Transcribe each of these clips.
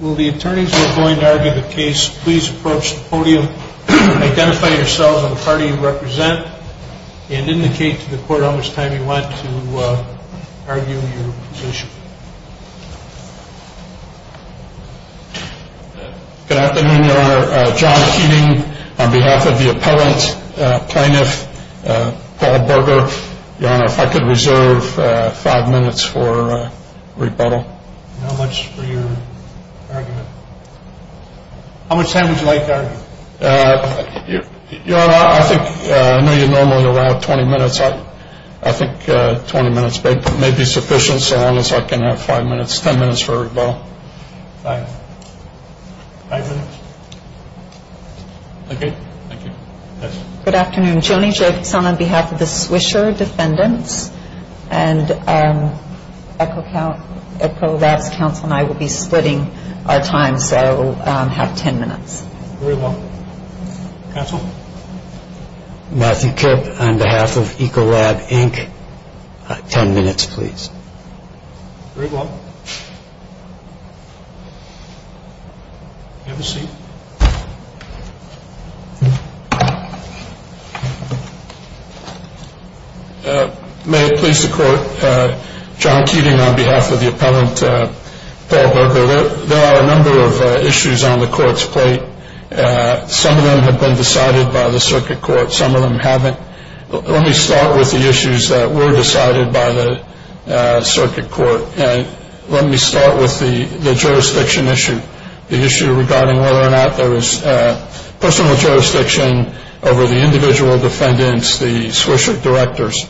Will the attorneys who are going to argue the case please approach the podium, identify yourselves and the party you represent, and indicate to the court how much time you want to argue your position. Good afternoon, Your Honor. John Keating on behalf of the Appellant Plaintiff, Paul Berger, Your Honor, if I could reserve five minutes for rebuttal. How much for your argument? How much time would you like to argue? Your Honor, I think, I know you normally allow 20 minutes, I think 20 minutes may be sufficient so long as I can have five minutes, ten minutes for rebuttal. Good afternoon, Joni Jacobson on behalf of the Swisher Defendants and Ecolab's counsel and I will be splitting our time so we'll have ten minutes. Matthew Kipp on behalf of Ecolab, Inc. Ten minutes please. May it please the court, Jon Keating on behalf of the Appellant, Paul Berger. There are a number of issues on the court's plate. Some of them have been decided by the circuit court, some of them haven't. Let me start with the issues that were decided by the circuit court. Let me start with the jurisdiction issue. The issue regarding whether or not there was personal jurisdiction over the individual defendants, the Swisher Directors.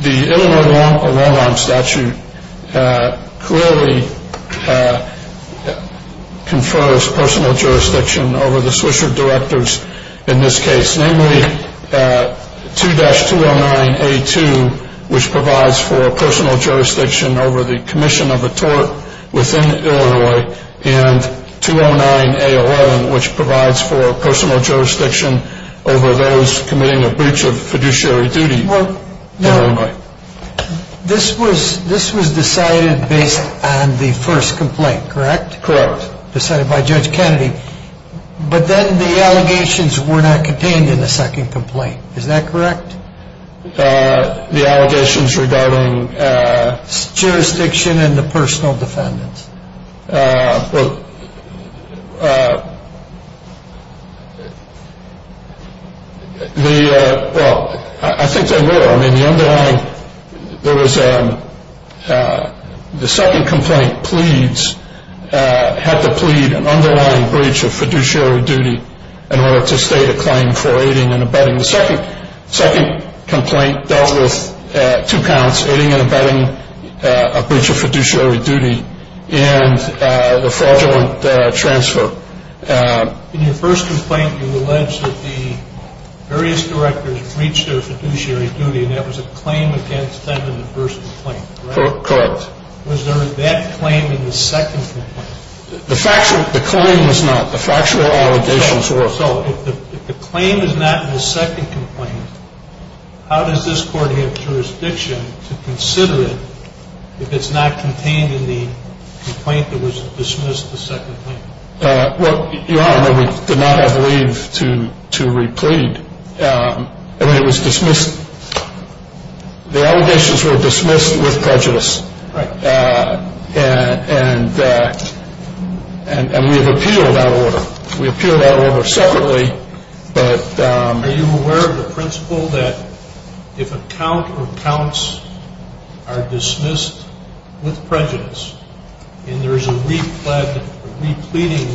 The Illinois Directors in this case, namely 2-209A2 which provides for personal jurisdiction over the commission of a tort within Illinois and 209A11 which provides for personal jurisdiction over those committing a breach of fiduciary duty in Illinois. This was decided based on the first complaint, correct? Correct. Decided by Judge Kennedy. But then the allegations were not contained in the second complaint, is that correct? The allegations regarding jurisdiction and the personal defendants. Well, I think they were. The underlying, there was a, the second complaint pleads, had to plead an underlying breach of fiduciary duty in order to state a claim for aiding and abetting. The second complaint dealt with two counts, aiding and abetting a breach of fiduciary duty and the fraudulent transfer. In your first complaint you allege that the various directors breached their fiduciary duty and that was a claim against them in the first complaint, correct? Correct. Was there that claim in the second complaint? The factual, the claim was not. The factual allegations were. So if the claim is not in the second complaint, how does this court have jurisdiction to consider it if it's not contained in the complaint that was dismissed the second complaint? Well, Your Honor, we did not have leave to re-plead. It was dismissed, the allegations were dismissed with prejudice. Right. And we have appealed that order. We appealed that order separately, but. Are you aware of the principle that if a count or counts are dismissed with prejudice and there is a re-plead, a re-pleading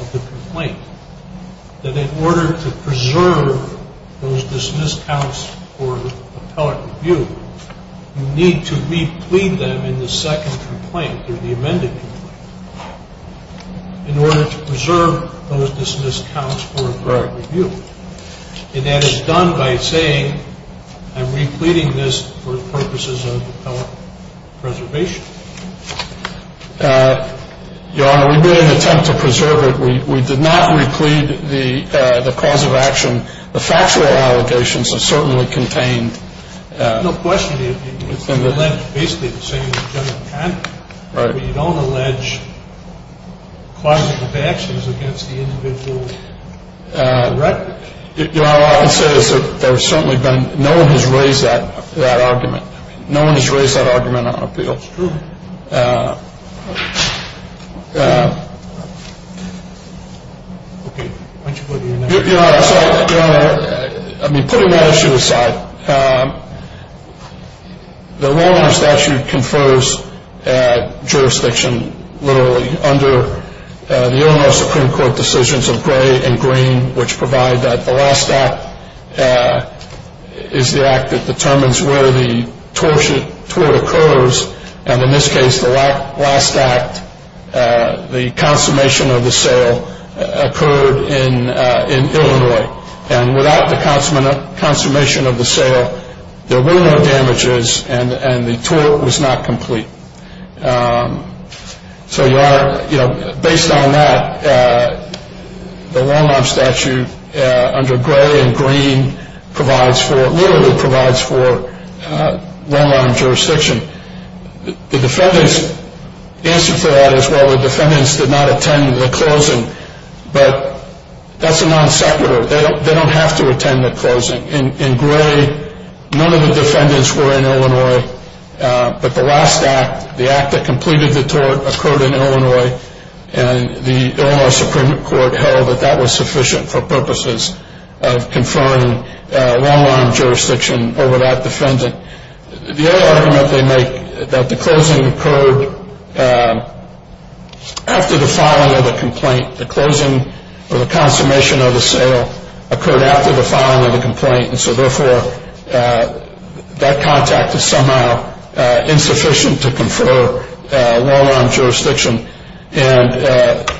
of the complaint, that in order to preserve those dismissed counts for appellate review, you need to re-plead them in the second complaint or the amended complaint in order to preserve those dismissed counts for appellate preservation? Your Honor, we made an attempt to preserve it. We did not re-plead the cause of action. The factual allegations are certainly contained. No question. It's basically the same as general conduct. Right. But you don't allege cause of actions against the individual record. Your Honor, I would say that there's certainly been, no one has raised that argument. No one has raised that argument on appeal. It's true. Okay, why don't you go to your next question. Your Honor, sorry, Your Honor, I mean, putting that issue aside, the Roll Honor statute confers jurisdiction, literally, under the Illinois Supreme Court decisions of gray and green, which provide that the last act is the act that determines where the tort occurs. And in this case, the last act, the consummation of the sale, occurred in Illinois. And without the consummation of the sale, there were no damages and the last act, the act that completed the tort, occurred in Illinois. And the last act, the act that completed the tort, occurred in Illinois. And based on that, the long-arm statute, under gray and green, provides for, literally provides for, long-arm jurisdiction. The defendants, the answer for that is, well, the defendants did not attend the closing. But that's a non-separative. They don't have to attend the closing. In gray, none of the defendants were in Illinois. But the last act, the act that completed the tort, occurred in Illinois. And the Illinois Supreme Court held that that was sufficient for purposes of conferring long-arm jurisdiction over that defendant. The other argument they make, that the closing occurred after the complaint. The closing, or the consummation of the sale, occurred after the filing of the complaint. And so, therefore, that contact is somehow insufficient to confer long-arm jurisdiction. And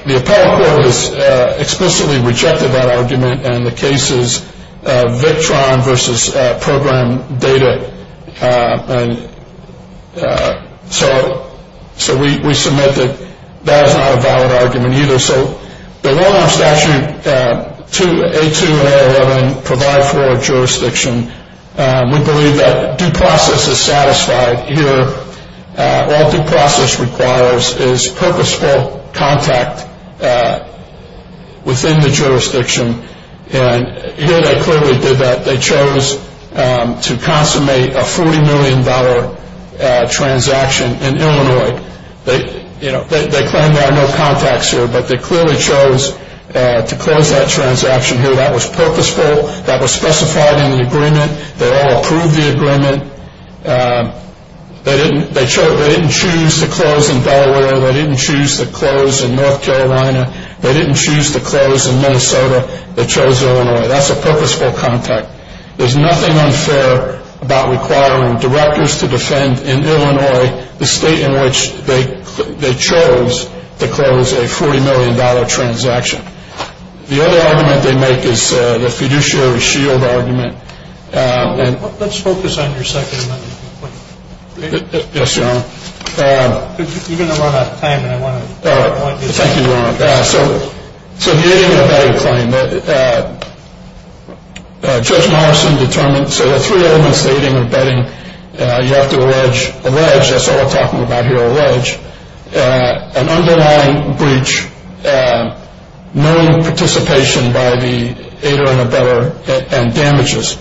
the appellate court has explicitly rejected that argument. And the case is Victron versus program data. And so, so we, we submit that that is not a valid argument either. So the long-arm statute, A2 and A11, provide for jurisdiction. We believe that due process is satisfied. Here, all due process requires is purposeful contact within the jurisdiction. And here they clearly did that. They chose to consummate a $40 million transaction in Illinois. They, you know, they claim there are no contacts here, but they clearly chose to close that transaction here. That was purposeful. That was specified in the agreement. They all approved the agreement. They didn't, they chose, they didn't choose to close in Delaware. They didn't choose to close in North Carolina. They didn't choose to close in Minnesota. They chose Illinois. That's a purposeful contact. There's nothing unfair about requiring directors to defend in Illinois the state in which they, they chose to close a $40 million transaction. The other argument they make is the fiduciary shield argument. And... Let's focus on your second amendment. Yes, Your Honor. You're going to run out of time, and I want to... Thank you, Your Honor. So, so the aiding and abetting claim that Judge Morrison determined, so there are three elements to aiding and abetting. You have to allege, allege, that's all we're talking about here, allege, an underlying breach, known participation by the aider and abetter, and damages.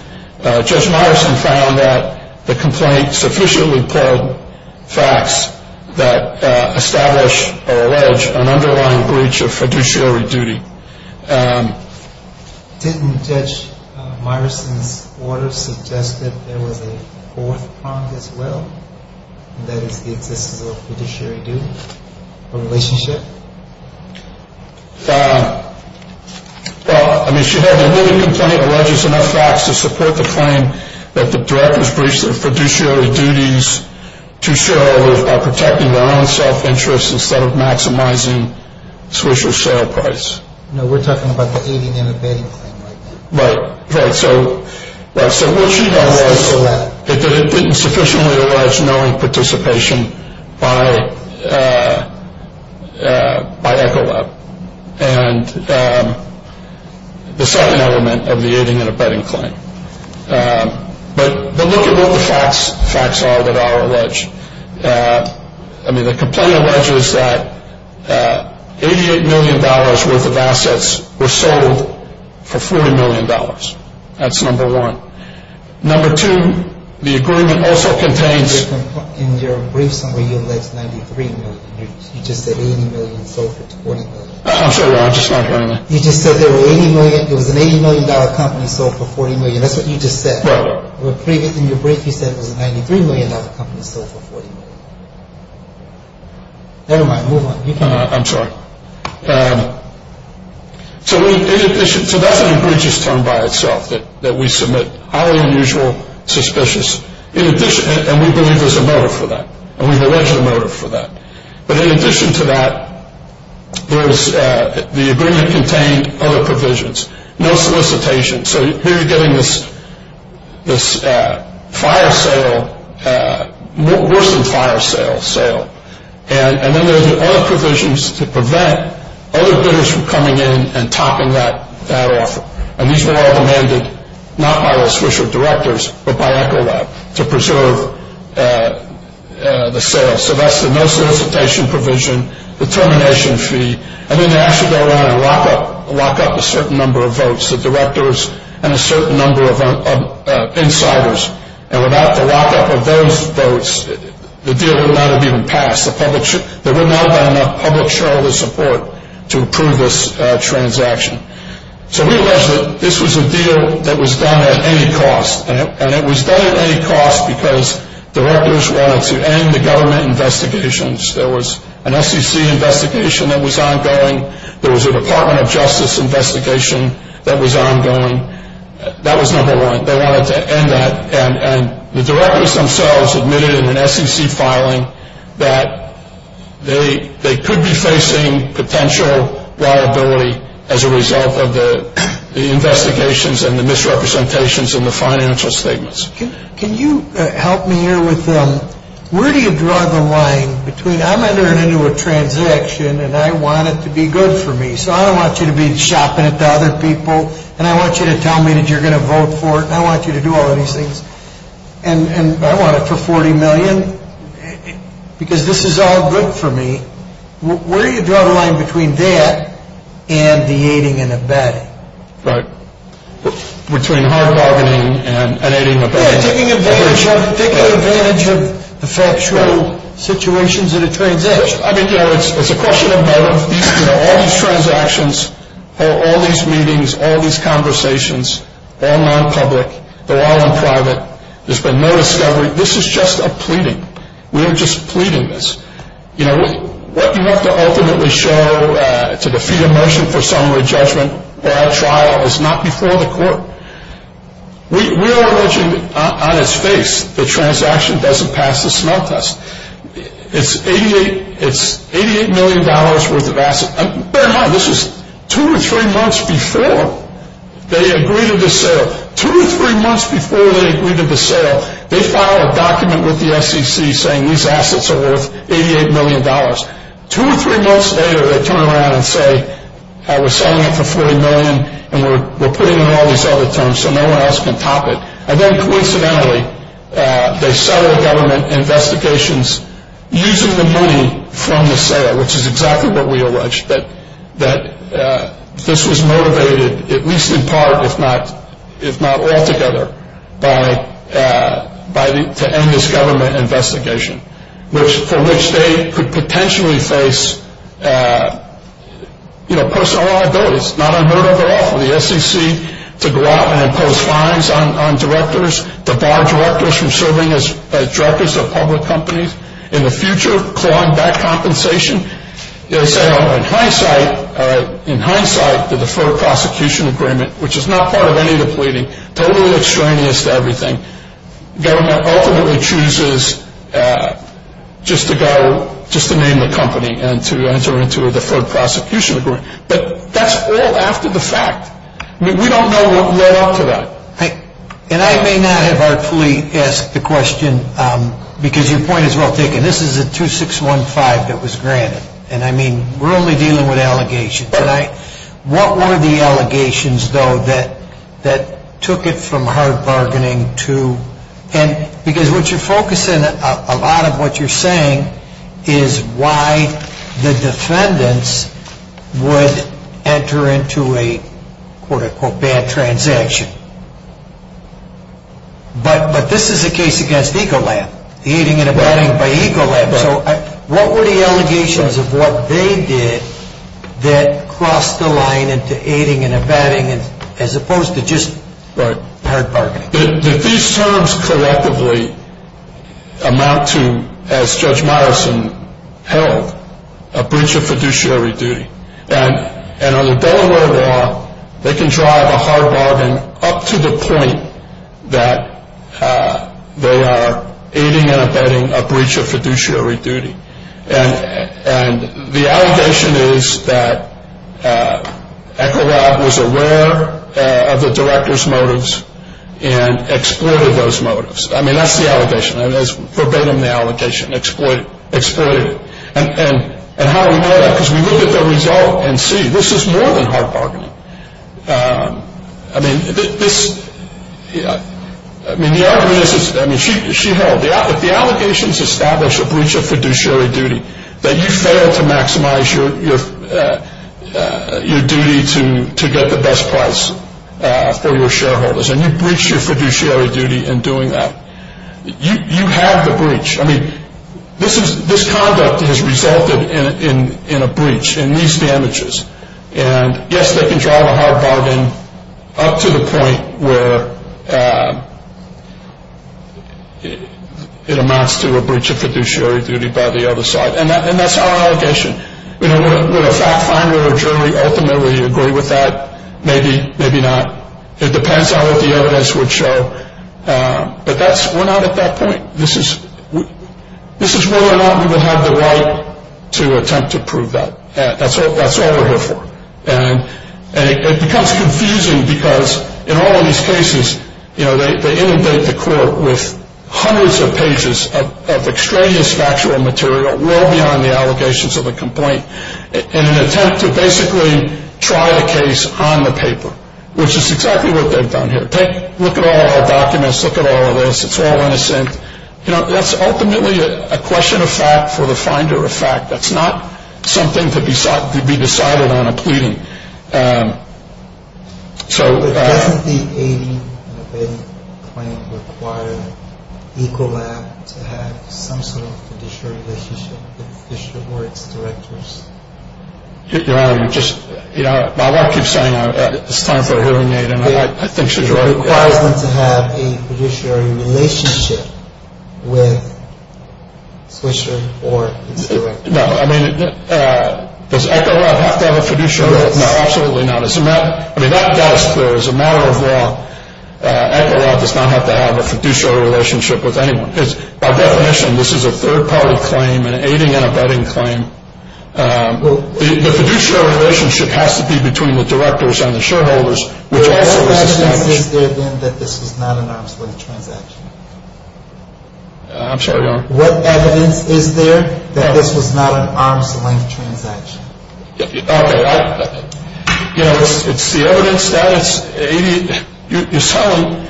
Judge Morrison found that the complaint sufficiently plugged facts that establish or allege an underlying breach of fiduciary duty. Didn't Judge Morrison's order suggest that there was a fourth prong as well, and that is the existence of a fiduciary duty, a relationship? Well, I mean, she held the ruling complaint alleges enough facts to support the claim that the directors breached their fiduciary duties to shareholders by protecting their own self-interest instead of maximizing Swisher's sale price. No, we're talking about the aiding and abetting claim right now. Right, right, so what she does is... It didn't sufficiently allege knowing participation by Echolab. And the second element of the aiding and abetting claim. But look at what the facts are that are alleged. I mean, the complaint alleges that $88 million worth of assets were sold for $40 million. That's number one. Number two, the agreement also contains... I'm sorry, I'm just not hearing that. You just said there was an $80 million company sold for $40 million. That's what you just said. Right, right. In your brief you said it was a $93 million company sold for $40 million. Never mind, move on. I'm sorry. So that's an egregious term by itself that we submit. Highly unusual, suspicious. And we believe there's a motive for that. And we've alleged a motive for that. But in addition to that, the agreement contained other provisions. No solicitation. So here you're getting this fire sale, worse than fire sale, sale. And then there's other provisions to prevent other bidders from coming in and topping that offer. And these were all demanded not by those Swisher directors, but by Echolab to preserve the sale. So that's the no solicitation provision, the termination fee, and then they actually go around and lock up a certain number of votes, the directors and a certain number of insiders. And without the lockup of those votes, the deal would not have even passed. There would not have been enough public shareholder support to approve this transaction. So we allege that this was a deal that was done at any cost. And it was done at any cost because directors wanted to end the government investigations. There was an SEC investigation that was ongoing. There was a Department of Justice investigation that was ongoing. That was number one. They wanted to end that. And the directors themselves admitted in an SEC filing that they could be facing potential liability as a result of the investigations and the misrepresentations in the financial statements. Can you help me here with where do you draw the line between I'm entering into a transaction and I want it to be good for me, so I don't want you to be shopping it to other people, and I want you to tell me that you're going to vote for it, and I want you to do all of these things, and I want it for $40 million because this is all good for me. Where do you draw the line between that and the aiding and abetting? Right. Between hard bargaining and aiding and abetting. Yeah, taking advantage of the factual situations in a transaction. I mean, you know, it's a question of both. All these transactions, all these meetings, all these conversations, all non-public, they're all in private, there's been no discovery. This is just a pleading. We're just pleading this. You know, what you have to ultimately show to defeat a motion for summary judgment for our trial is not before the court. We are alleging on its face the transaction doesn't pass the smell test. It's $88 million worth of assets. Bear in mind, this was two or three months before they agreed to the sale. Two or three months before they agreed to the sale, they filed a document with the SEC saying these assets are worth $88 million. Two or three months later, they turn around and say, we're selling it for $40 million and we're putting in all these other terms so no one else can top it. And then coincidentally, they settled government investigations using the money from the sale, which is exactly what we alleged, that this was motivated, at least in part, if not altogether, to end this government investigation, for which they could potentially face personal liabilities, not unheard of at all. For the SEC to go out and impose fines on directors, to bar directors from serving as directors of public companies in the future, clawing back compensation. In hindsight, the Deferred Prosecution Agreement, which is not part of any of the pleading, totally extraneous to everything, government ultimately chooses just to name the company and to enter into a Deferred Prosecution Agreement. But that's all after the fact. We don't know what led up to that. And I may not have artfully asked the question because your point is well taken. This is a 2615 that was granted. And I mean, we're only dealing with allegations. What were the allegations, though, that took it from hard bargaining to and because what you're focusing a lot of what you're saying is why the defendants would enter into a, quote unquote, bad transaction. But this is a case against Ecolab. Aiding and abetting by Ecolab. So what were the allegations of what they did that crossed the line into aiding and abetting as opposed to just hard bargaining? These terms collectively amount to, as Judge Myerson held, a breach of fiduciary duty. And under Delaware law, they can drive a hard bargain up to the point that they are aiding and abetting a breach of fiduciary duty. And the allegation is that Ecolab was aware of the director's motives and exploited those motives. I mean, that's the allegation. It's forbidden the allegation, exploited it. And how do we know that? Because we look at the result and see. This is more than hard bargaining. I mean, this, I mean, the argument is, I mean, she held. If the allegations establish a breach of fiduciary duty, that you fail to maximize your duty to get the best price for your shareholders and you breach your fiduciary duty in doing that, you have the breach. I mean, this conduct has resulted in a breach, in these damages. And, yes, they can drive a hard bargain up to the point where it amounts to a breach of fiduciary duty by the other side. And that's our allegation. Would a fact finder or jury ultimately agree with that? Maybe, maybe not. It depends on what the evidence would show. But we're not at that point. This is whether or not we would have the right to attempt to prove that. That's all we're here for. And it becomes confusing because in all of these cases, you know, they inundate the court with hundreds of pages of extraneous factual material, well beyond the allegations of a complaint, in an attempt to basically try the case on the paper, which is exactly what they've done here. Look at all our documents. Look at all of this. It's all innocent. You know, that's ultimately a question of fact for the finder of fact. That's not something to be decided on a pleading. So... But doesn't the 80-day claim require ECOLAB to have some sort of fiduciary relationship with the fiduciary board's directors? You know, you just, you know, my wife keeps saying it's time for a hearing aid, and I think she's right. It requires them to have a fiduciary relationship with the fiduciary board's directors. No, I mean, does ECOLAB have to have a fiduciary relationship? No, absolutely not. I mean, that does, as a matter of law, ECOLAB does not have to have a fiduciary relationship with anyone. By definition, this is a third-party claim, an aiding and abetting claim. The fiduciary relationship has to be between the directors and the shareholders, which also is a fact. What evidence is there, then, that this was not an arm's-length transaction? I'm sorry, Your Honor? What evidence is there that this was not an arm's-length transaction? Okay, I, you know, it's the evidence that it's, you're selling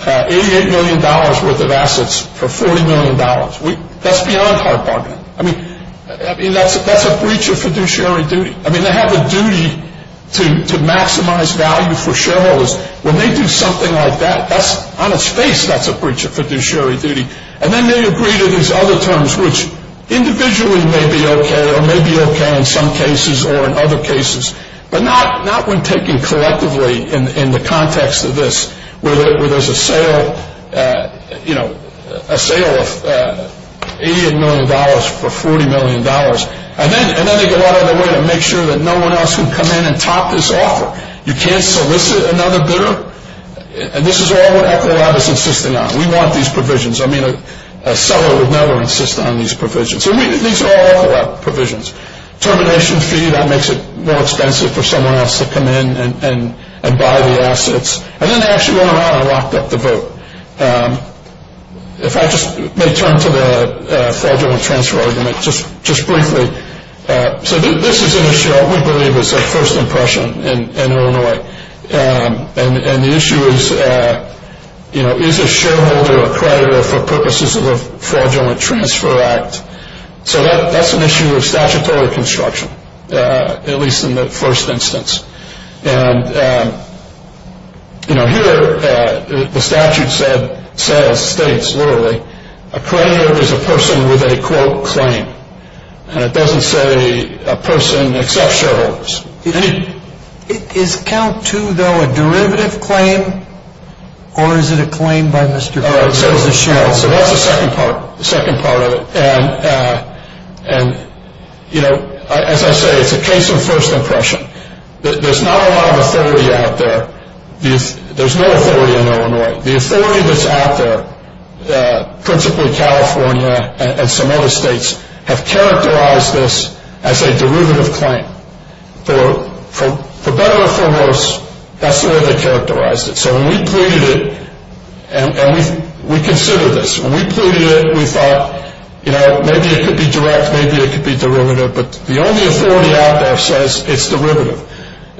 $88 million worth of assets for $40 million. That's beyond hard bargaining. I mean, that's a breach of fiduciary duty. I mean, they have a duty to maximize value for shareholders. When they do something like that, that's, on its face, that's a breach of fiduciary duty. And then they agree to these other terms, which individually may be okay or may be okay in some cases or in other cases, but not when taken collectively in the context of this, where there's a sale, you know, a sale of $88 million for $40 million. And then they go out of their way to make sure that no one else can come in and top this offer. You can't solicit another bidder. And this is all what Ecolab is insisting on. We want these provisions. I mean, a seller would never insist on these provisions. These are all Ecolab provisions. Termination fee, that makes it more expensive for someone else to come in and buy the assets. And then they actually went around and locked up the vote. If I just may turn to the fraudulent transfer argument just briefly. So this is an issue we believe is a first impression in Illinois. And the issue is, you know, is a shareholder a creditor for purposes of a fraudulent transfer act? So that's an issue of statutory construction, at least in the first instance. And, you know, here the statute says, states literally, a creditor is a person with a, quote, claim. And it doesn't say a person except shareholders. Is count two, though, a derivative claim? Or is it a claim by the shareholders? So that's the second part, the second part of it. And, you know, as I say, it's a case of first impression. There's not a lot of authority out there. There's no authority in Illinois. The authority that's out there, principally California and some other states, have characterized this as a derivative claim. For better or for worse, that's the way they characterized it. So when we pleaded it, and we considered this. When we pleaded it, we thought, you know, maybe it could be direct, maybe it could be derivative. But the only authority out there says it's derivative.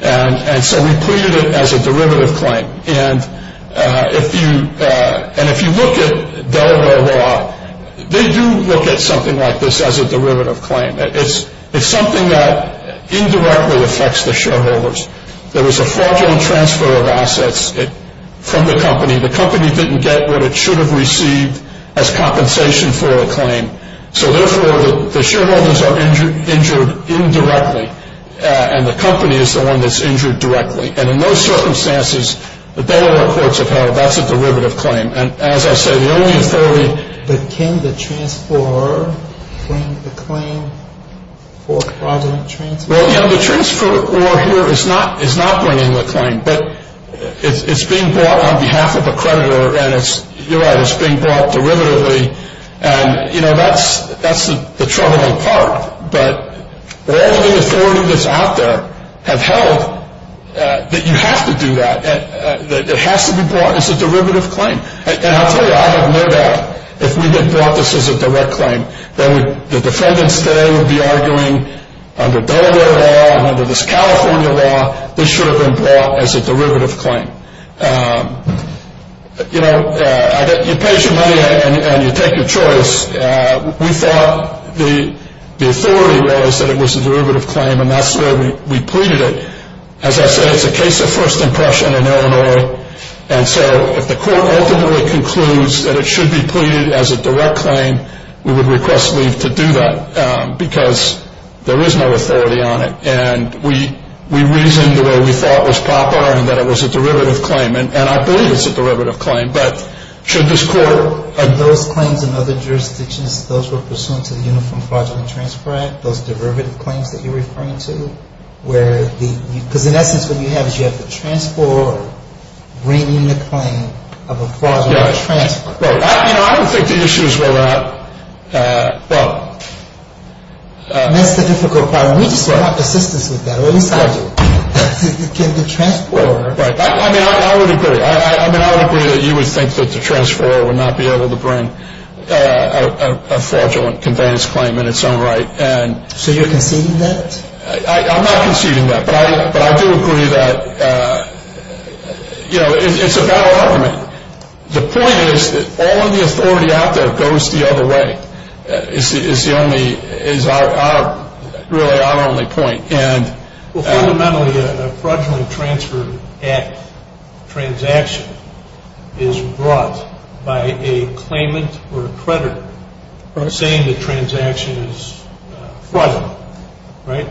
And so we pleaded it as a derivative claim. And if you look at Delaware law, they do look at something like this as a derivative claim. It's something that indirectly affects the shareholders. There was a fraudulent transfer of assets from the company. The company didn't get what it should have received as compensation for a claim. So, therefore, the shareholders are injured indirectly. And the company is the one that's injured directly. And in those circumstances, the Delaware courts have held that's a derivative claim. And, as I say, the only authority. But can the transferor bring the claim for fraudulent transfer? Well, yeah, the transferor here is not bringing the claim. But it's being brought on behalf of a creditor. And you're right, it's being brought derivatively. And, you know, that's the troubling part. But all of the authorities out there have held that you have to do that, that it has to be brought as a derivative claim. And I'll tell you, I have no doubt if we had brought this as a direct claim, that the defendants there would be arguing under Delaware law and under this California law, this should have been brought as a derivative claim. You know, you pay your money and you take your choice. We thought the authority was that it was a derivative claim, and that's the way we pleaded it. As I said, it's a case of first impression in Illinois. And so if the court ultimately concludes that it should be pleaded as a direct claim, we would request leave to do that because there is no authority on it. And we reasoned the way we thought was proper and that it was a derivative claim. And I believe it's a derivative claim. But should this court – And those claims in other jurisdictions, those were pursuant to the Uniform Fraudulent Transfer Act, those derivative claims that you're referring to, where the – because in essence what you have is you have the transport bringing the claim of a fraudulent transfer. Well, you know, I don't think the issues were that – well – And that's the difficult part. We just were not persistent with that. Well, it's fraudulent. I mean, I would agree. I mean, I would agree that you would think that the transfer would not be able to bring a fraudulent conveyance claim in its own right. So you're conceding that? I'm not conceding that. But I do agree that, you know, it's a better argument. The point is that all of the authority out there goes the other way. It's the only – it's really our only point. And – Well, fundamentally, a fraudulent transfer act transaction is brought by a claimant or a creditor saying the transaction is fraudulent. Right?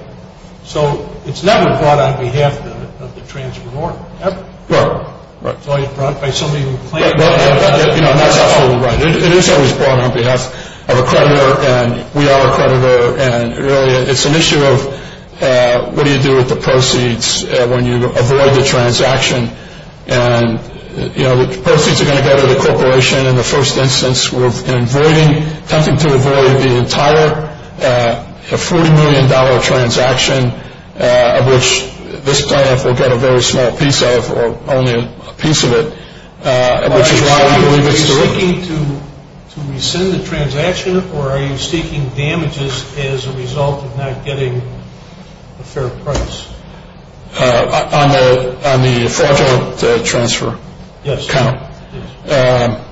So it's never brought on behalf of the transferor, ever. It's always brought by somebody who claims – Well, you know, that's absolutely right. It is always brought on behalf of a creditor, and we are a creditor. And really, it's an issue of what do you do with the proceeds when you avoid the transaction. And, you know, the proceeds are going to go to the corporation. In the first instance, we're avoiding – attempting to avoid the entire $40 million transaction, which this client will get a very small piece of, or only a piece of it, which is why we believe it's the – Are you seeking to rescind the transaction, or are you seeking damages as a result of not getting a fair price? On the fraudulent transfer? Yes. Kind of? Yes.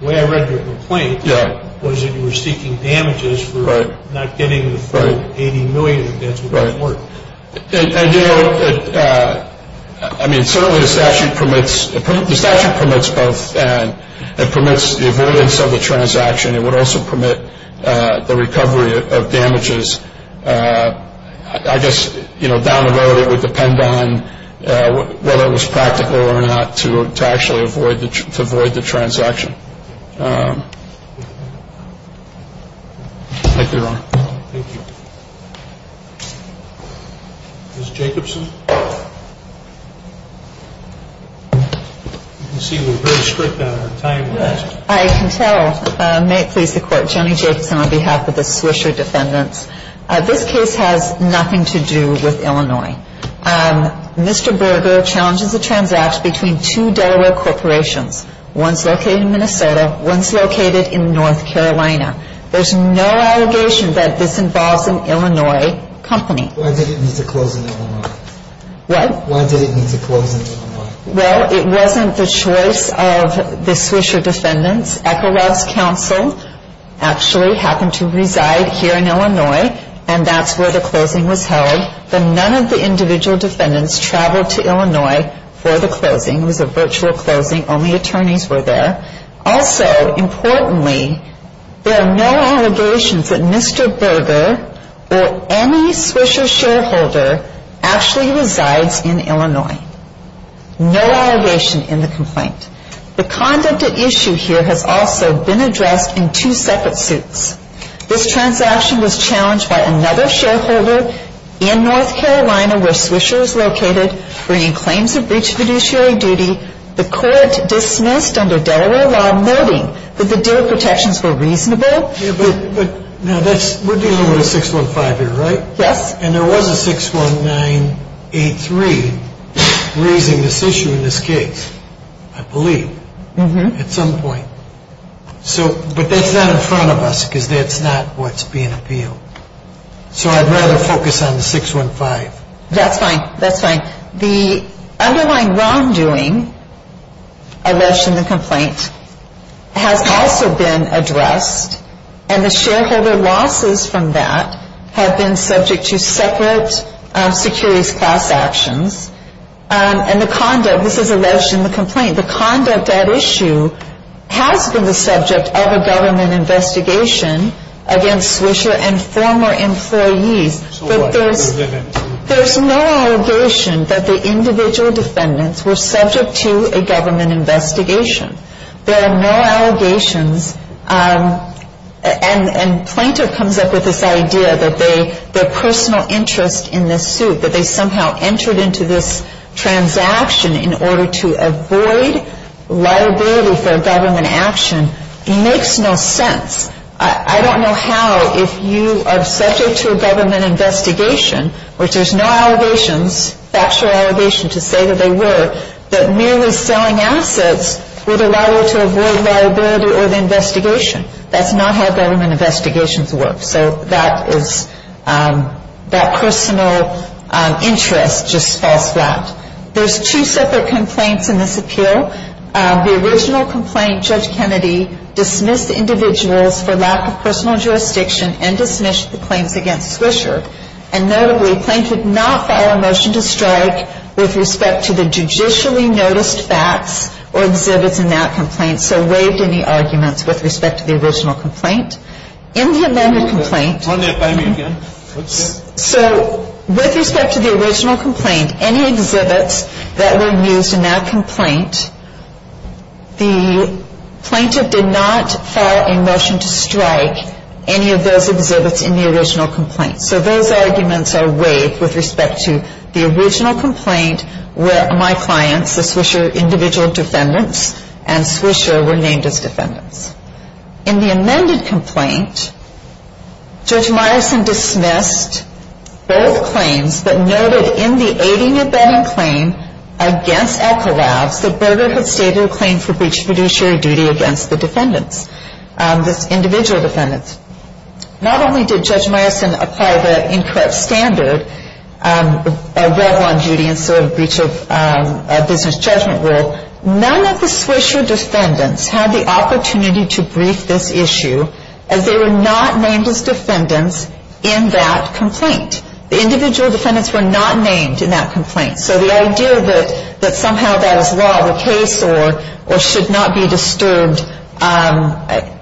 The way I read your complaint – Yeah. Was that you were seeking damages for – Right. – not getting the $40 – Right. – 80 million advance with the court. Right. And, you know, I mean, certainly the statute permits – the statute permits both. It permits the avoidance of the transaction. It would also permit the recovery of damages. I guess, you know, down the road, it would depend on whether it was practical or not to actually avoid the transaction. Thank you, Your Honor. Thank you. Ms. Jacobson? You can see we're very strict on our timelines. I can tell. May it please the Court. Jenny Jacobson on behalf of the Swisher Defendants. This case has nothing to do with Illinois. Mr. Berger challenges the transaction between two Delaware corporations, one's located in Minnesota, one's located in North Carolina. There's no allegation that this involves an Illinois company. Why did it need to close in Illinois? What? Why did it need to close in Illinois? Well, it wasn't the choice of the Swisher Defendants. Ecolab's counsel actually happened to reside here in Illinois, and that's where the closing was held. But none of the individual defendants traveled to Illinois for the closing. It was a virtual closing. Only attorneys were there. Also, importantly, there are no allegations that Mr. Berger or any Swisher shareholder actually resides in Illinois. No allegation in the complaint. The conduct at issue here has also been addressed in two separate suits. This transaction was challenged by another shareholder in North Carolina, where Swisher is located, bringing claims of breach of fiduciary duty. The court dismissed under Delaware law noting that the deer protections were reasonable. Yeah, but we're dealing with a 615 here, right? Yes. And there was a 61983 raising this issue in this case, I believe, at some point. But that's not in front of us because that's not what's being appealed. So I'd rather focus on the 615. That's fine. That's fine. The underlying wrongdoing alleged in the complaint has also been addressed, and the shareholder losses from that have been subject to separate securities class actions. And the conduct, this is alleged in the complaint, the conduct at issue has been the subject of a government investigation against Swisher and former employees. But there's no allegation that the individual defendants were subject to a government investigation. There are no allegations. And Plainter comes up with this idea that their personal interest in this suit, that they somehow entered into this transaction in order to avoid liability for government action, makes no sense. I don't know how, if you are subject to a government investigation, which there's no allegations, factual allegations to say that they were, that merely selling assets would allow you to avoid liability or the investigation. That's not how government investigations work. So that is, that personal interest just falls flat. There's two separate complaints in this appeal. The original complaint, Judge Kennedy dismissed the individuals for lack of personal jurisdiction and dismissed the claims against Swisher. And notably, Plaintiff did not file a motion to strike with respect to the judicially noticed facts or exhibits in that complaint, so waived any arguments with respect to the original complaint. In the amended complaint, so with respect to the original complaint, any exhibits that were used in that complaint, the Plaintiff did not file a motion to strike any of those exhibits in the original complaint. So those arguments are waived with respect to the original complaint, where my clients, the Swisher individual defendants, and Swisher were named as defendants. In the amended complaint, Judge Myerson dismissed both claims, but noted in the aiding and abetting claim against Echolabs, that Berger had stated a claim for breach of fiduciary duty against the defendants, the individual defendants. Not only did Judge Myerson apply the incorrect standard, a rebel on duty instead of a breach of business judgment rule, none of the Swisher defendants had the opportunity to brief this issue, as they were not named as defendants in that complaint. The individual defendants were not named in that complaint. So the idea that somehow that is law of the case or should not be disturbed,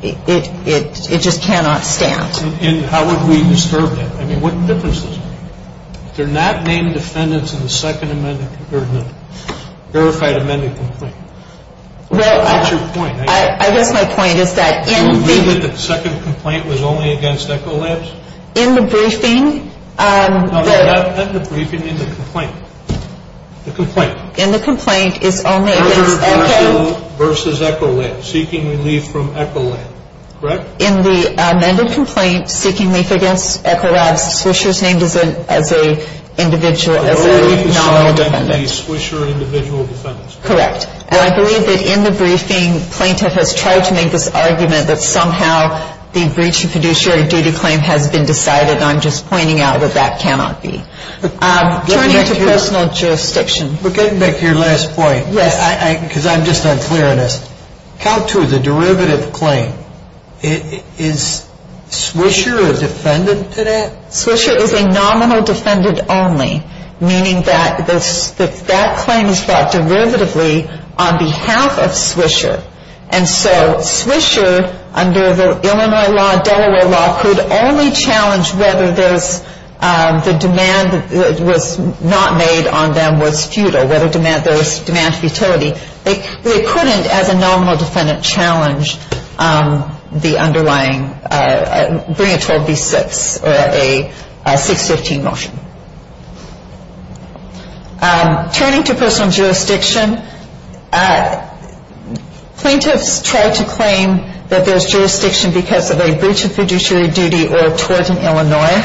it just cannot stand. And how would we disturb that? I mean, what difference does it make? They're not named defendants in the second amended or the verified amended complaint. That's your point. I guess my point is that in the... You mean that the second complaint was only against Echolabs? In the briefing, the... No, not in the briefing, in the complaint. In the complaint, it's only against Echolabs. Berger versus Echolabs, seeking relief from Echolabs, correct? In the amended complaint, seeking relief against Echolabs, Swisher is named as an individual, as a nominal defendant. The Swisher individual defendants. Correct. And I believe that in the briefing, plaintiff has tried to make this argument that somehow the breach of fiduciary duty claim has been decided, and I'm just pointing out that that cannot be. Turning to personal jurisdiction. But getting back to your last point, because I'm just unclear on this. Count to the derivative claim. Is Swisher a defendant to that? Swisher is a nominal defendant only, meaning that that claim is brought derivatively on behalf of Swisher. And so Swisher, under the Illinois law, Delaware law, could only challenge whether the demand that was not made on them was futile, whether there was demand futility. They couldn't, as a nominal defendant, challenge the underlying, bring it to a B6, a 615 motion. Turning to personal jurisdiction. Plaintiffs try to claim that there's jurisdiction because of a breach of fiduciary duty or tort in Illinois.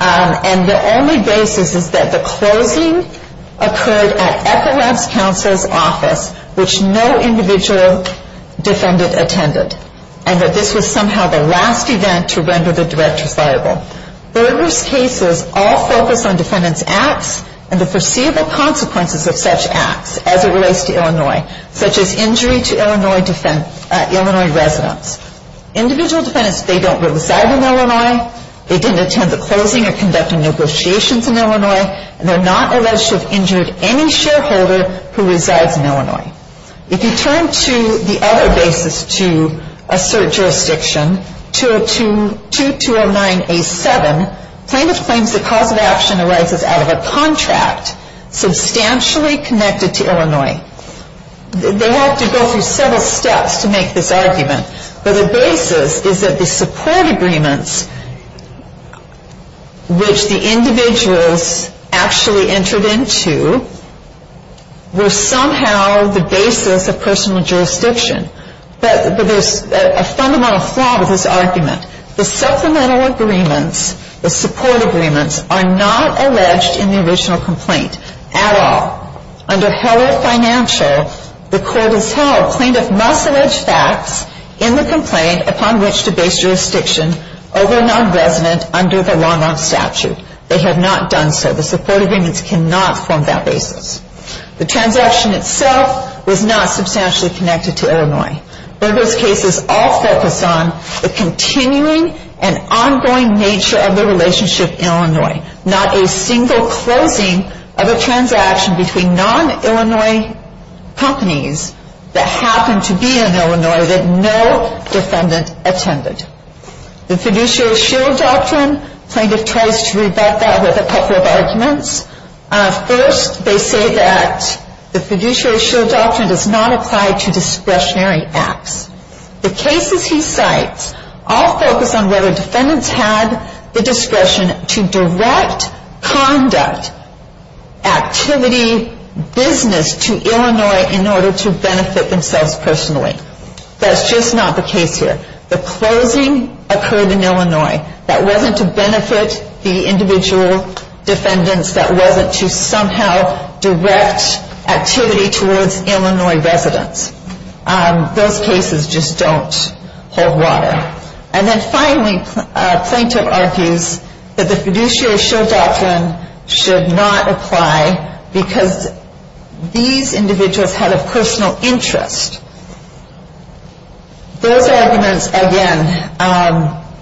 And the only basis is that the closing occurred at Echo Labs Counsel's office, which no individual defendant attended. And that this was somehow the last event to render the director's liable. Burgess cases all focus on defendant's acts and the foreseeable consequences of such acts, as it relates to Illinois, such as injury to Illinois residents. Individual defendants, they don't reside in Illinois. They didn't attend the closing or conducting negotiations in Illinois. And they're not alleged to have injured any shareholder who resides in Illinois. If you turn to the other basis to assert jurisdiction, 2209A7, plaintiff claims the cause of action arises out of a contract substantially connected to Illinois. They have to go through several steps to make this argument. But the basis is that the support agreements, which the individuals actually entered into, were somehow the basis of personal jurisdiction. But there's a fundamental flaw with this argument. The supplemental agreements, the support agreements, are not alleged in the original complaint at all. Under Heller Financial, the court has held plaintiff must allege facts in the complaint upon which to base jurisdiction over a non-resident under the long-arm statute. They have not done so. The support agreements cannot form that basis. The transaction itself was not substantially connected to Illinois. Burgess cases all focus on the continuing and ongoing nature of the relationship in Illinois, not a single closing of a transaction between non-Illinois companies that happened to be in Illinois that no defendant attended. The fiduciary shield doctrine, plaintiff tries to rebut that with a couple of arguments. First, they say that the fiduciary shield doctrine does not apply to discretionary acts. The cases he cites all focus on whether defendants had the discretion to direct conduct, activity, business to Illinois in order to benefit themselves personally. That's just not the case here. The closing occurred in Illinois. That wasn't to benefit the individual defendants. That wasn't to somehow direct activity towards Illinois residents. Those cases just don't hold water. And then finally, plaintiff argues that the fiduciary shield doctrine should not apply because these individuals had a personal interest. Those arguments, again,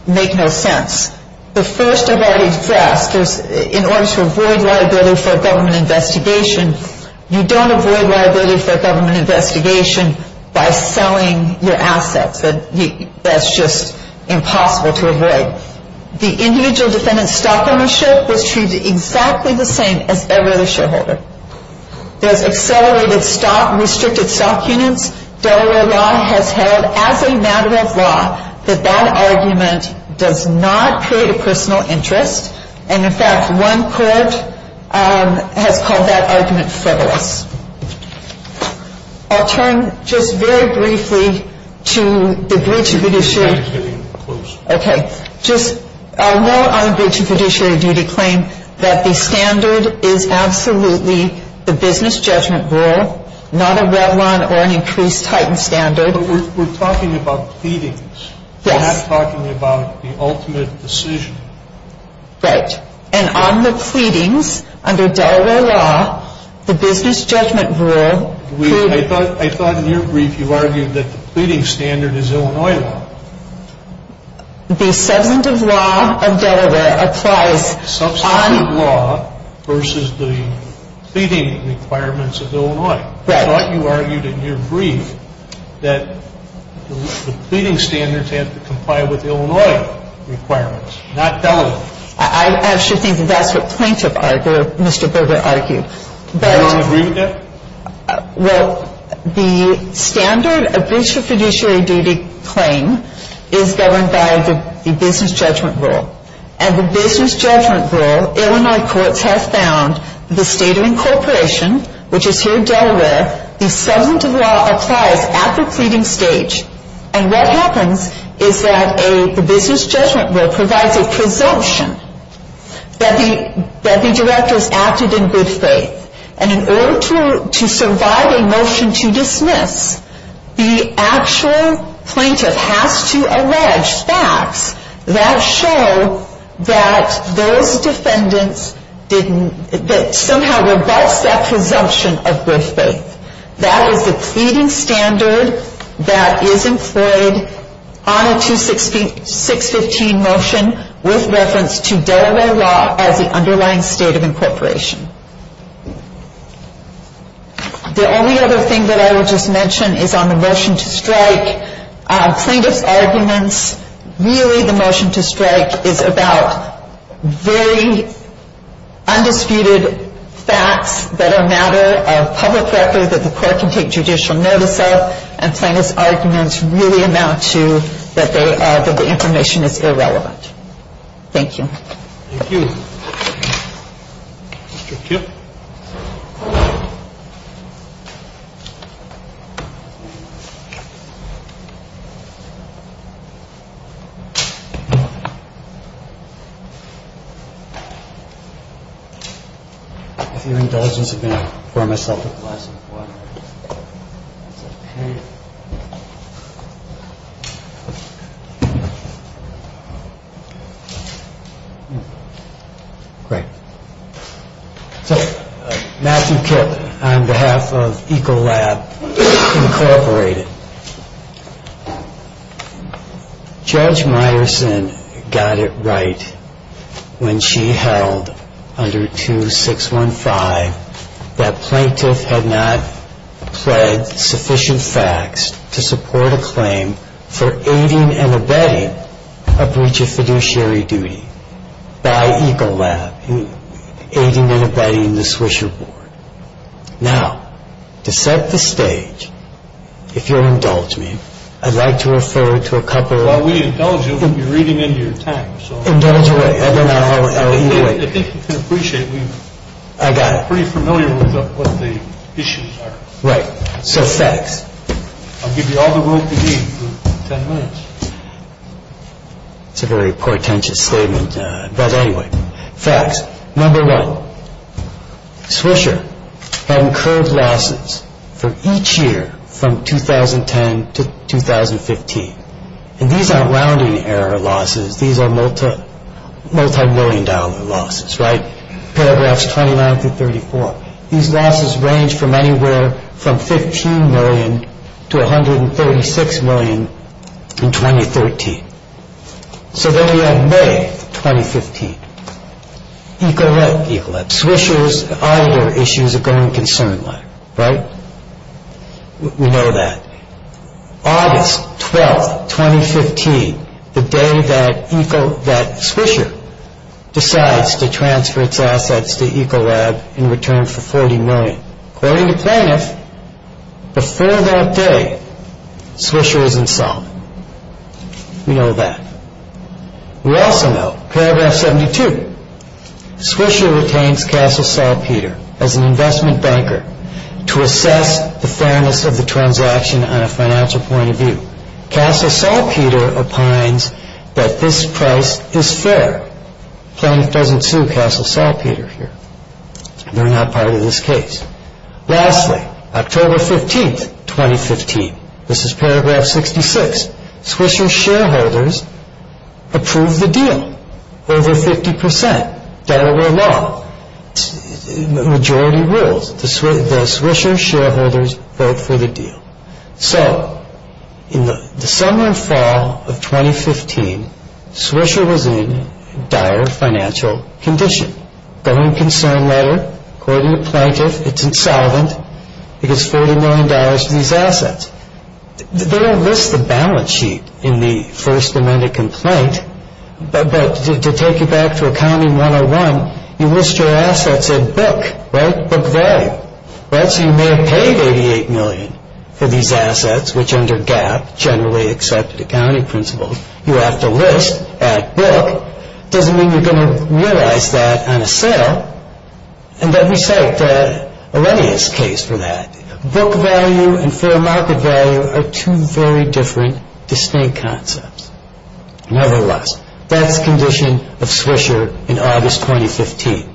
make no sense. The first I've already addressed is in order to avoid liability for a government investigation, you don't avoid liability for a government investigation by selling your assets. That's just impossible to avoid. The individual defendant's stock ownership was treated exactly the same as ever the shareholder. There's accelerated restricted stock units. Delaware law has held as a matter of law that that argument does not create a personal interest. And in fact, one court has called that argument frivolous. I'll turn just very briefly to the breach of fiduciary. Okay. Just a note on the breach of fiduciary duty claim that the standard is absolutely the business judgment rule, not a Revlon or an increased Titan standard. But we're talking about pleadings. Yes. We're not talking about the ultimate decision. Right. And on the pleadings, under Delaware law, the business judgment rule. I thought in your brief you argued that the pleading standard is Illinois law. The substantive law of Delaware applies on. Substantive law versus the pleading requirements of Illinois. Right. I thought you argued in your brief that the pleading standards have to comply with Illinois requirements, not Delaware. I actually think that that's what plaintiff Mr. Berger argued. Do you not agree with that? Well, the standard of breach of fiduciary duty claim is governed by the business judgment rule. And the business judgment rule, Illinois courts have found the state of incorporation, which is here in Delaware, the substantive law applies at the pleading stage. And what happens is that the business judgment rule provides a presumption that the director has acted in good faith. And in order to survive a motion to dismiss, the actual plaintiff has to allege facts that show that those defendants didn't, that somehow revokes that presumption of good faith. That is the pleading standard that is employed on a 2615 motion with reference to Delaware law as the underlying state of incorporation. The only other thing that I would just mention is on the motion to strike. Plaintiff's arguments, really the motion to strike is about very undisputed facts that are a matter of public record that the court can take judicial notice of. And plaintiff's arguments really amount to that the information is irrelevant. Thank you. Thank you. Thank you. If your indulgence would be for myself. Great. So, Matthew Kipp on behalf of Ecolab Incorporated. Judge Myerson got it right when she held under 2615 that plaintiff had not pled sufficient facts to support a claim for aiding and abetting a breach of fiduciary duty by Ecolab in aiding and abetting the Swisher Board. Now, to set the stage, if you'll indulge me, I'd like to refer to a couple of – While we indulge you, we'll be reading into your time, so – Indulge away. Otherwise, I'll eat away. I think you can appreciate we've – I got it. We're pretty familiar with what the issues are. Right. So, facts. I'll give you all the words you need for ten minutes. It's a very portentous statement, but anyway. Facts. Number one, Swisher had incurred losses for each year from 2010 to 2015. And these aren't rounding error losses. These are multimillion dollar losses, right? Paragraphs 29 through 34. These losses range from anywhere from $15 million to $136 million in 2013. So then we have May 2015. Ecolab. Ecolab. Swisher's auditor issues a going concern letter, right? We know that. August 12, 2015, the day that Swisher decides to transfer its assets to Ecolab in return for $40 million. According to Plaintiff, before that day, Swisher is insolvent. We know that. We also know, paragraph 72, Swisher retains Castle Saltpeter as an investment banker to assess the fairness of the transaction on a financial point of view. Castle Saltpeter opines that this price is fair. Plaintiff doesn't sue Castle Saltpeter here. They're not part of this case. Lastly, October 15, 2015. This is paragraph 66. Swisher's shareholders approve the deal. Over 50%. Delaware law. Majority rules. The Swisher shareholders vote for the deal. So, in the summer and fall of 2015, Swisher was in dire financial condition. Going concern letter, according to Plaintiff, it's insolvent. It gets $40 million for these assets. They don't list the balance sheet in the first amended complaint, but to take you back to accounting 101, you list your assets at book, right? Book value. So you may have paid $88 million for these assets, which under GAAP, generally accepted accounting principles, you have to list at book. Doesn't mean you're going to realize that on a sale. And then we cite Arrhenius' case for that. Book value and fair market value are two very different, distinct concepts. Nevertheless, that's condition of Swisher in August 2015.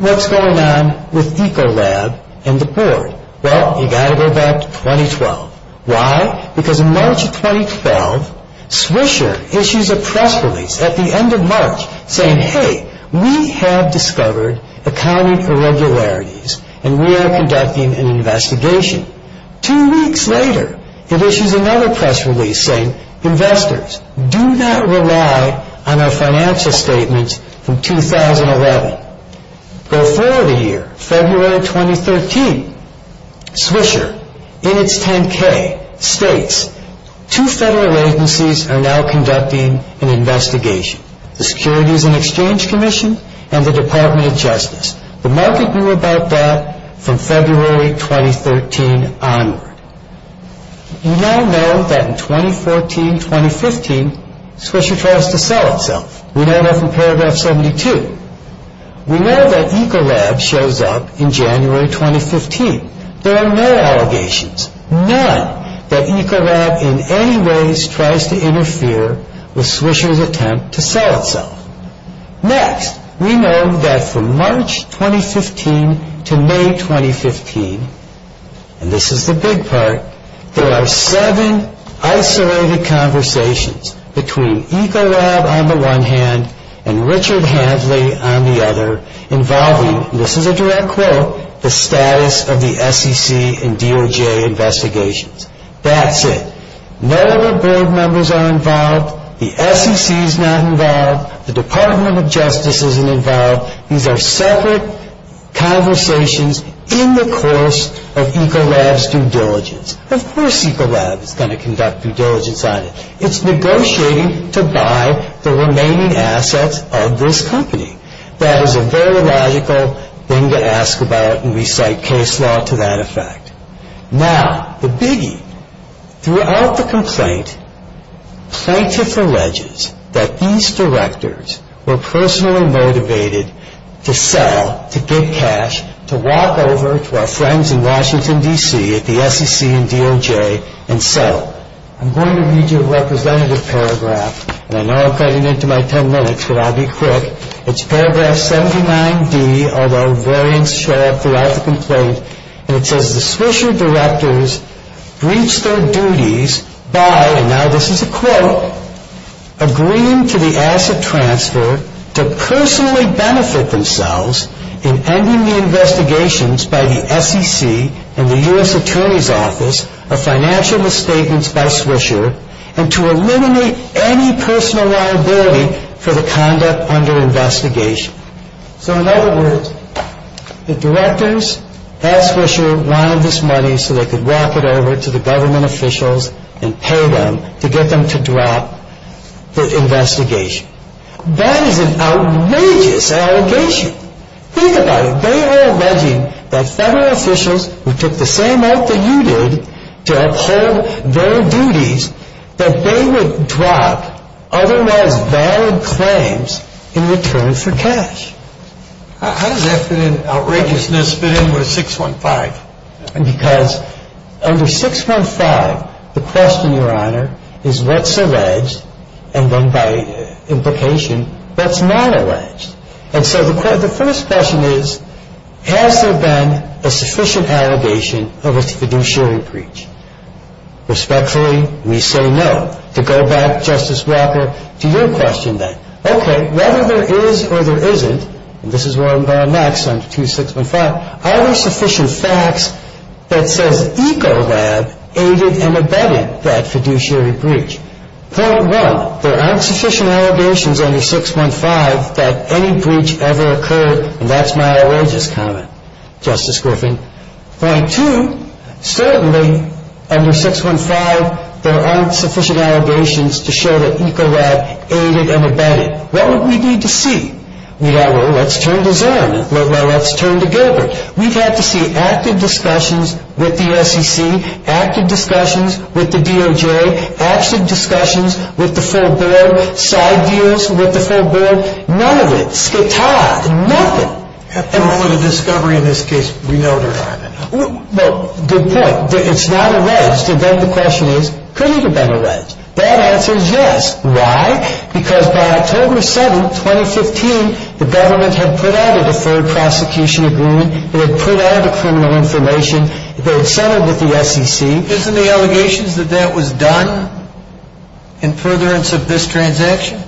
What's going on with Ecolab and the board? Well, you got to go back to 2012. Why? Because in March of 2012, Swisher issues a press release at the end of March saying, hey, we have discovered accounting irregularities and we are conducting an investigation. Two weeks later, it issues another press release saying, investors, do not rely on our financial statements from 2011. Go forward a year, February 2013. Swisher, in its 10-K, states, two federal agencies are now conducting an investigation. The Securities and Exchange Commission and the Department of Justice. The market knew about that from February 2013 onward. We now know that in 2014-2015, Swisher tries to sell itself. We know that from paragraph 72. We know that Ecolab shows up in January 2015. There are no allegations, none, that Ecolab in any ways tries to interfere with Swisher's attempt to sell itself. Next, we know that from March 2015 to May 2015, and this is the big part, there are seven isolated conversations between Ecolab on the one hand and Richard Hadley on the other involving, this is a direct quote, the status of the SEC and DOJ investigations. That's it. No other board members are involved. The SEC is not involved. The Department of Justice isn't involved. These are separate conversations in the course of Ecolab's due diligence. Of course Ecolab is going to conduct due diligence on it. It's negotiating to buy the remaining assets of this company. That is a very logical thing to ask about and we cite case law to that effect. Now, the biggie, throughout the complaint, plaintiff alleges that these directors were personally motivated to sell, to get cash, to walk over to our friends in Washington, D.C. at the SEC and DOJ and sell. I'm going to read you a representative paragraph, and I know I'm cutting into my ten minutes, but I'll be quick. It's paragraph 79D, although variants show up throughout the complaint, and it says the Swisher directors reached their duties by, and now this is a quote, agreeing to the asset transfer to personally benefit themselves in ending the investigations by the SEC and the U.S. Attorney's Office of financial misstatements by Swisher and to eliminate any personal liability for the conduct under investigation. So in other words, the directors asked Swisher wanted this money so they could walk it over to the government officials and pay them to get them to drop the investigation. That is an outrageous allegation. Think about it. They were alleging that federal officials who took the same oath that you did to uphold their duties, that they would drop otherwise valid claims in return for cash. How does that fit in, outrageousness, fit in with 615? Because under 615, the question, Your Honor, is what's alleged, and then by implication, what's not alleged? And so the first question is, has there been a sufficient allegation of a fiduciary breach? Respectfully, we say no. To go back, Justice Walker, to your question then. Okay, whether there is or there isn't, and this is where I'm going next under 615, are there sufficient facts that says Ecolab aided and abetted that fiduciary breach? Point one, there aren't sufficient allegations under 615 that any breach ever occurred, and that's my outrageous comment, Justice Griffin. Point two, certainly under 615, there aren't sufficient allegations to show that Ecolab aided and abetted. What would we need to see? Well, let's turn to Zim. Let's turn to Gilbert. We've had to see active discussions with the SEC, active discussions with the DOJ, active discussions with the full board, side deals with the full board, none of it, skedad, nothing. At the moment of discovery in this case, we know there aren't enough. Well, good point. It's not alleged. And then the question is, could it have been alleged? Bad answer is yes. Why? Because by October 7, 2015, the government had put out a deferred prosecution agreement. They had put out the criminal information. They had settled with the SEC. Isn't the allegations that that was done in furtherance of this transaction?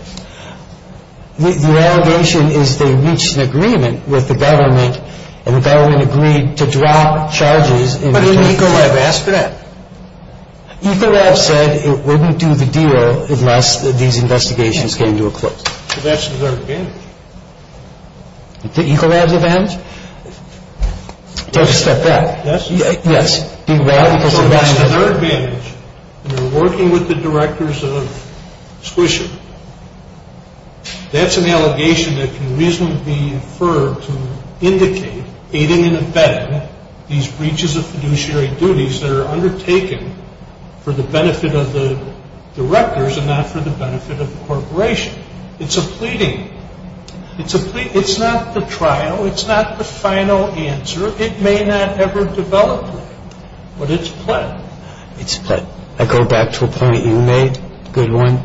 The allegation is they reached an agreement with the government and the government agreed to drop charges. But didn't Ecolab ask for that? Ecolab said it wouldn't do the deal unless these investigations came to a close. So that's a deferred advantage. The Ecolab's advantage? Don't step back. Yes. Yes. So that's a deferred advantage. And they're working with the directors of Swisher. That's an allegation that can reasonably be inferred to indicate, aiding and abetting these breaches of fiduciary duties that are undertaken for the benefit of the directors and not for the benefit of the corporation. It's a pleading. It's not the trial. It's not the final answer. It may not ever develop. But it's a plead. It's a plead. I go back to a point you made, a good one.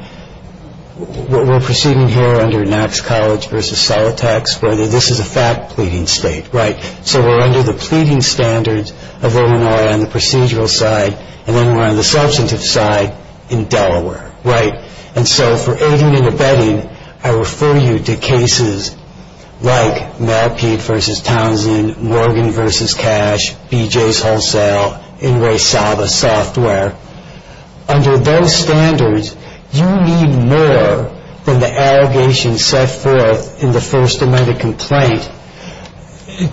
We're proceeding here under Knox College v. Solitax where this is a fact-pleading state, right? So we're under the pleading standards of Illinois on the procedural side, and then we're on the substantive side in Delaware, right? And so for aiding and abetting, I refer you to cases like Matt Peete v. Townsend, Morgan v. Cash, BJ's Wholesale, Inresaba Software. Under those standards, you need more than the allegation set forth in the first amendment complaint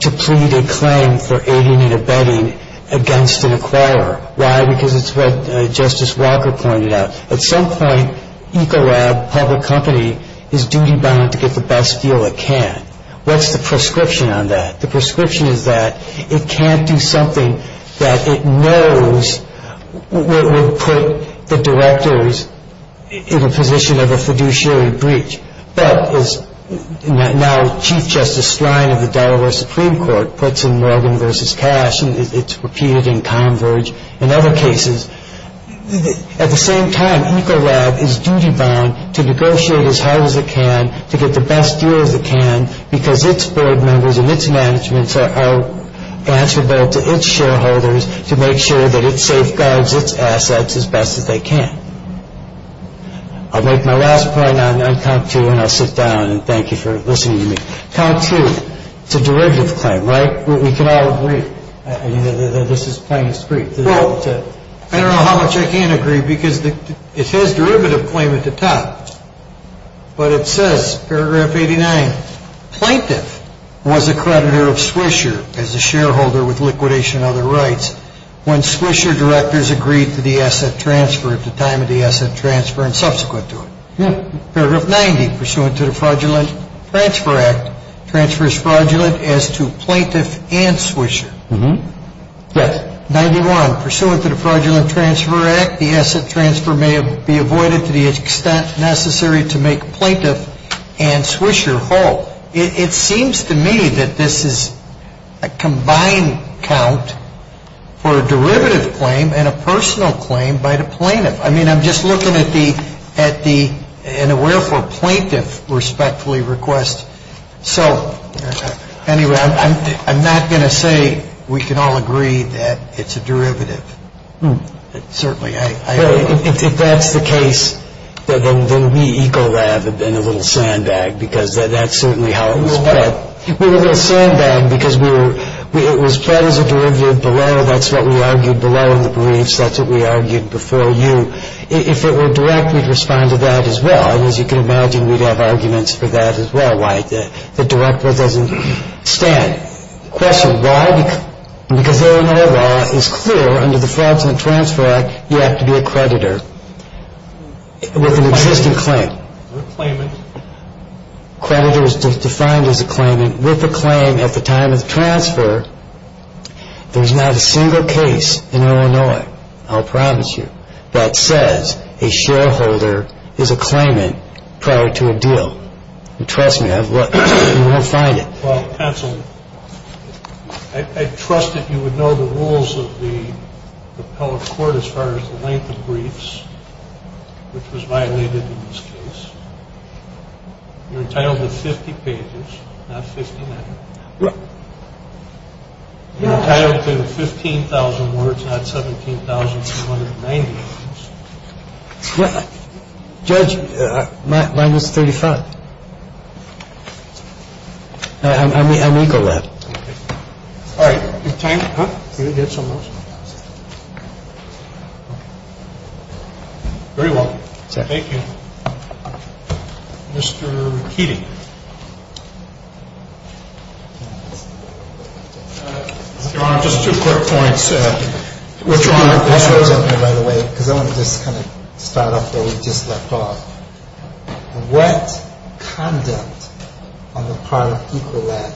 to plead a claim for aiding and abetting against an acquirer. Why? Because it's what Justice Walker pointed out. At some point, Ecolab Public Company is duty-bound to get the best deal it can. What's the prescription on that? The prescription is that it can't do something that it knows would put the directors in a position of a fiduciary breach. But as now Chief Justice Sline of the Delaware Supreme Court puts in Morgan v. Cash, and it's repeated in Converge and other cases, at the same time Ecolab is duty-bound to negotiate as hard as it can to get the best deal as it can because its board members and its management are answerable to its shareholders to make sure that it safeguards its assets as best as they can. I'll make my last point on Comp 2 and I'll sit down and thank you for listening to me. Comp 2, it's a derivative claim, right? We can all agree. This is plain and straight. Well, I don't know how much I can agree because it has derivative claim at the top. But it says, paragraph 89, plaintiff was a creditor of Swisher as a shareholder with liquidation and other rights when Swisher directors agreed to the asset transfer at the time of the asset transfer and subsequent to it. Yeah. Paragraph 90, pursuant to the Fraudulent Transfer Act, transfers fraudulent as to plaintiff and Swisher. Yes. 91, pursuant to the Fraudulent Transfer Act, the asset transfer may be avoided to the extent necessary to make plaintiff and Swisher whole. It seems to me that this is a combined count for a derivative claim and a personal claim by the plaintiff. I mean, I'm just looking at the and aware for plaintiff respectfully request. So anyway, I'm not going to say we can all agree that it's a derivative. Certainly. If that's the case, then we ecolab have been a little sandbag because that's certainly how it was. We were a little sandbag because we were we it was put as a derivative below. That's what we argued below in the briefs. That's what we argued before you. If it were direct, we'd respond to that as well. And as you can imagine, we'd have arguments for that as well. Why the director doesn't stand. Why? Because Illinois law is clear under the Fraudulent Transfer Act. You have to be a creditor with an existing claim. Claimant. Creditor is defined as a claimant with a claim at the time of the transfer. There's not a single case in Illinois. I'll promise you that says a shareholder is a claimant prior to a deal. Trust me, you won't find it. Well, counsel, I trust that you would know the rules of the appellate court as far as the length of briefs, which was violated in this case. You're entitled to 50 pages, not 59. You're entitled to 15,000 words, not 17,290. I believe you're entitled to 15,000 words, not 17,290. You're entitled to 15,000 words, not 17,290. Judge, mine was 35. I will go ahead. All right. Thank you. Very well. Thank you. Mr. Keating. Your Honor, just two quick points. First of all, I want to just kind of start off where we just left off. What conduct on the part of Ecolab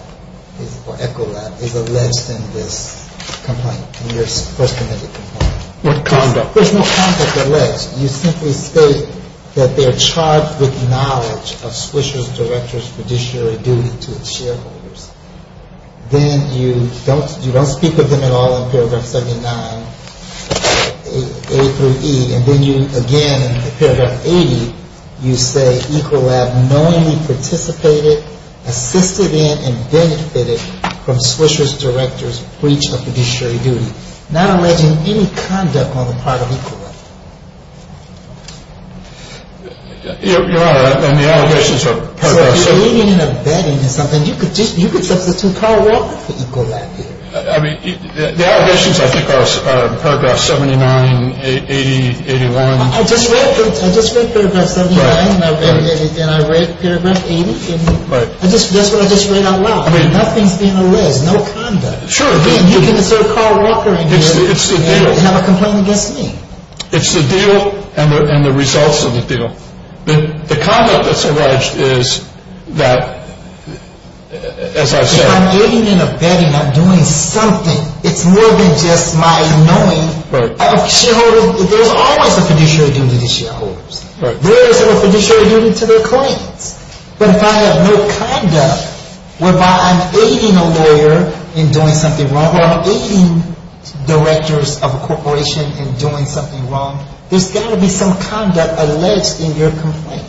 or Ecolab is alleged in this complaint, in your First Amendment complaint? What conduct? There's no conduct alleged. You simply state that they're charged with knowledge of Swisher's director's fiduciary duty to its shareholders. Then you don't speak with them at all in paragraph 79, A through E. And then you, again, in paragraph 80, you say Ecolab knowingly participated, assisted in, and benefited from Swisher's director's breach of fiduciary duty. Not alleging any conduct on the part of Ecolab. So if you're leading in a betting or something, you could substitute Carl Walker for Ecolab here. I mean, the allegations, I think, are paragraph 79, 80, 81. I just read paragraph 79, and I read paragraph 80. That's what I just read out loud. Nothing's being alleged. No conduct. Sure. Again, you can assert Carl Walker in here and have a complaint against me. It's the deal and the results of the deal. The conduct that's alleged is that, as I've said. If I'm aiding in a betting, I'm doing something. It's more than just my knowing. Right. There's always a fiduciary duty to the shareholders. Right. There isn't a fiduciary duty to their clients. But if I have no conduct whereby I'm aiding a lawyer in doing something wrong or I'm aiding directors of a corporation in doing something wrong, there's got to be some conduct alleged in your complaint.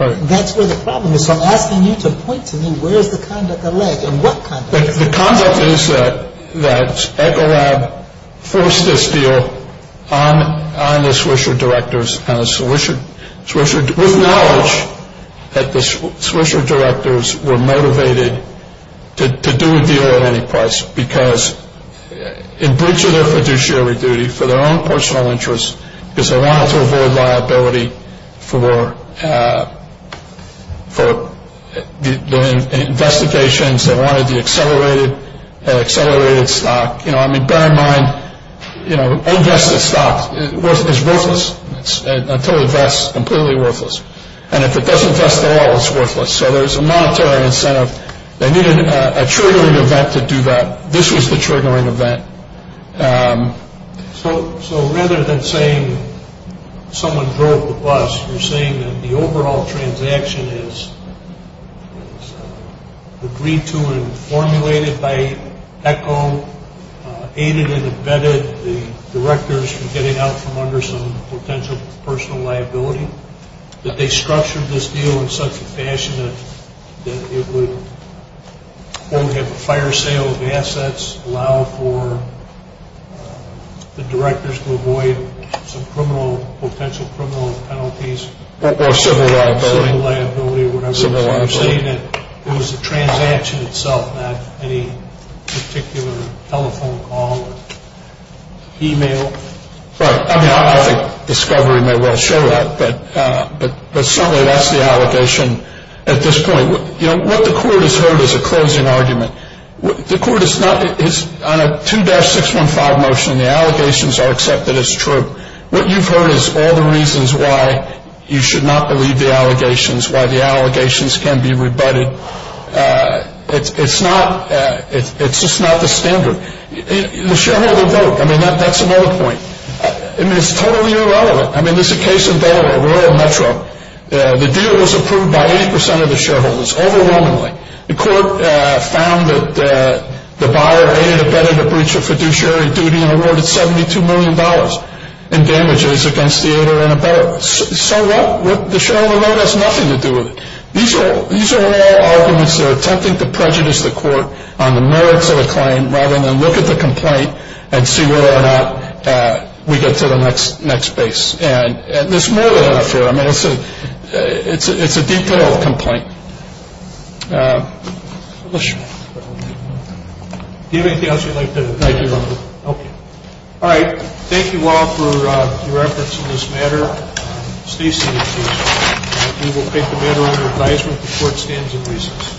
Right. That's where the problem is. So I'm asking you to point to me where is the conduct alleged and what conduct. The conduct is that Ecolab forced this deal on the Swisher directors, with knowledge that the Swisher directors were motivated to do a deal at any price because in breach of their fiduciary duty for their own personal interests, because they wanted to avoid liability for the investigations. They wanted the accelerated stock. You know, I mean, bear in mind, you know, invested stock is worthless until it vests, completely worthless. And if it doesn't vest at all, it's worthless. So there's a monetary incentive. They needed a triggering event to do that. This was the triggering event. So rather than saying someone drove the bus, you're saying that the overall transaction is agreed to and formulated by ECO, aided and abetted the directors from getting out from under some potential personal liability, that they structured this deal in such a fashion that it would, quote, have a fire sale of assets, allow for the directors to avoid some potential criminal penalties. Or civil liability. Civil liability or whatever. So I'm saying that it was the transaction itself, not any particular telephone call or email. Right. I mean, I think discovery may well show that. But certainly that's the allegation at this point. You know, what the court has heard is a closing argument. The court is on a 2-615 motion. The allegations are accepted as true. What you've heard is all the reasons why you should not believe the allegations, why the allegations can be rebutted. It's just not the standard. The shareholder vote. I mean, that's another point. I mean, it's totally irrelevant. I mean, there's a case in Delaware, Royal Metro. The deal was approved by 80% of the shareholders, overwhelmingly. The court found that the buyer aided and abetted a breach of fiduciary duty and awarded $72 million in damages against the aider and abetter. So what? The shareholder vote has nothing to do with it. These are all arguments that are attempting to prejudice the court on the merits of a claim rather than look at the complaint and see whether or not we get to the next base. And there's more than that up here. I mean, it's a detailed complaint. Do you have anything else you'd like to add? Thank you, Your Honor. Okay. All right. Thank you all for your efforts in this matter. Stacey, we will take the matter under advisement before it stands in recess.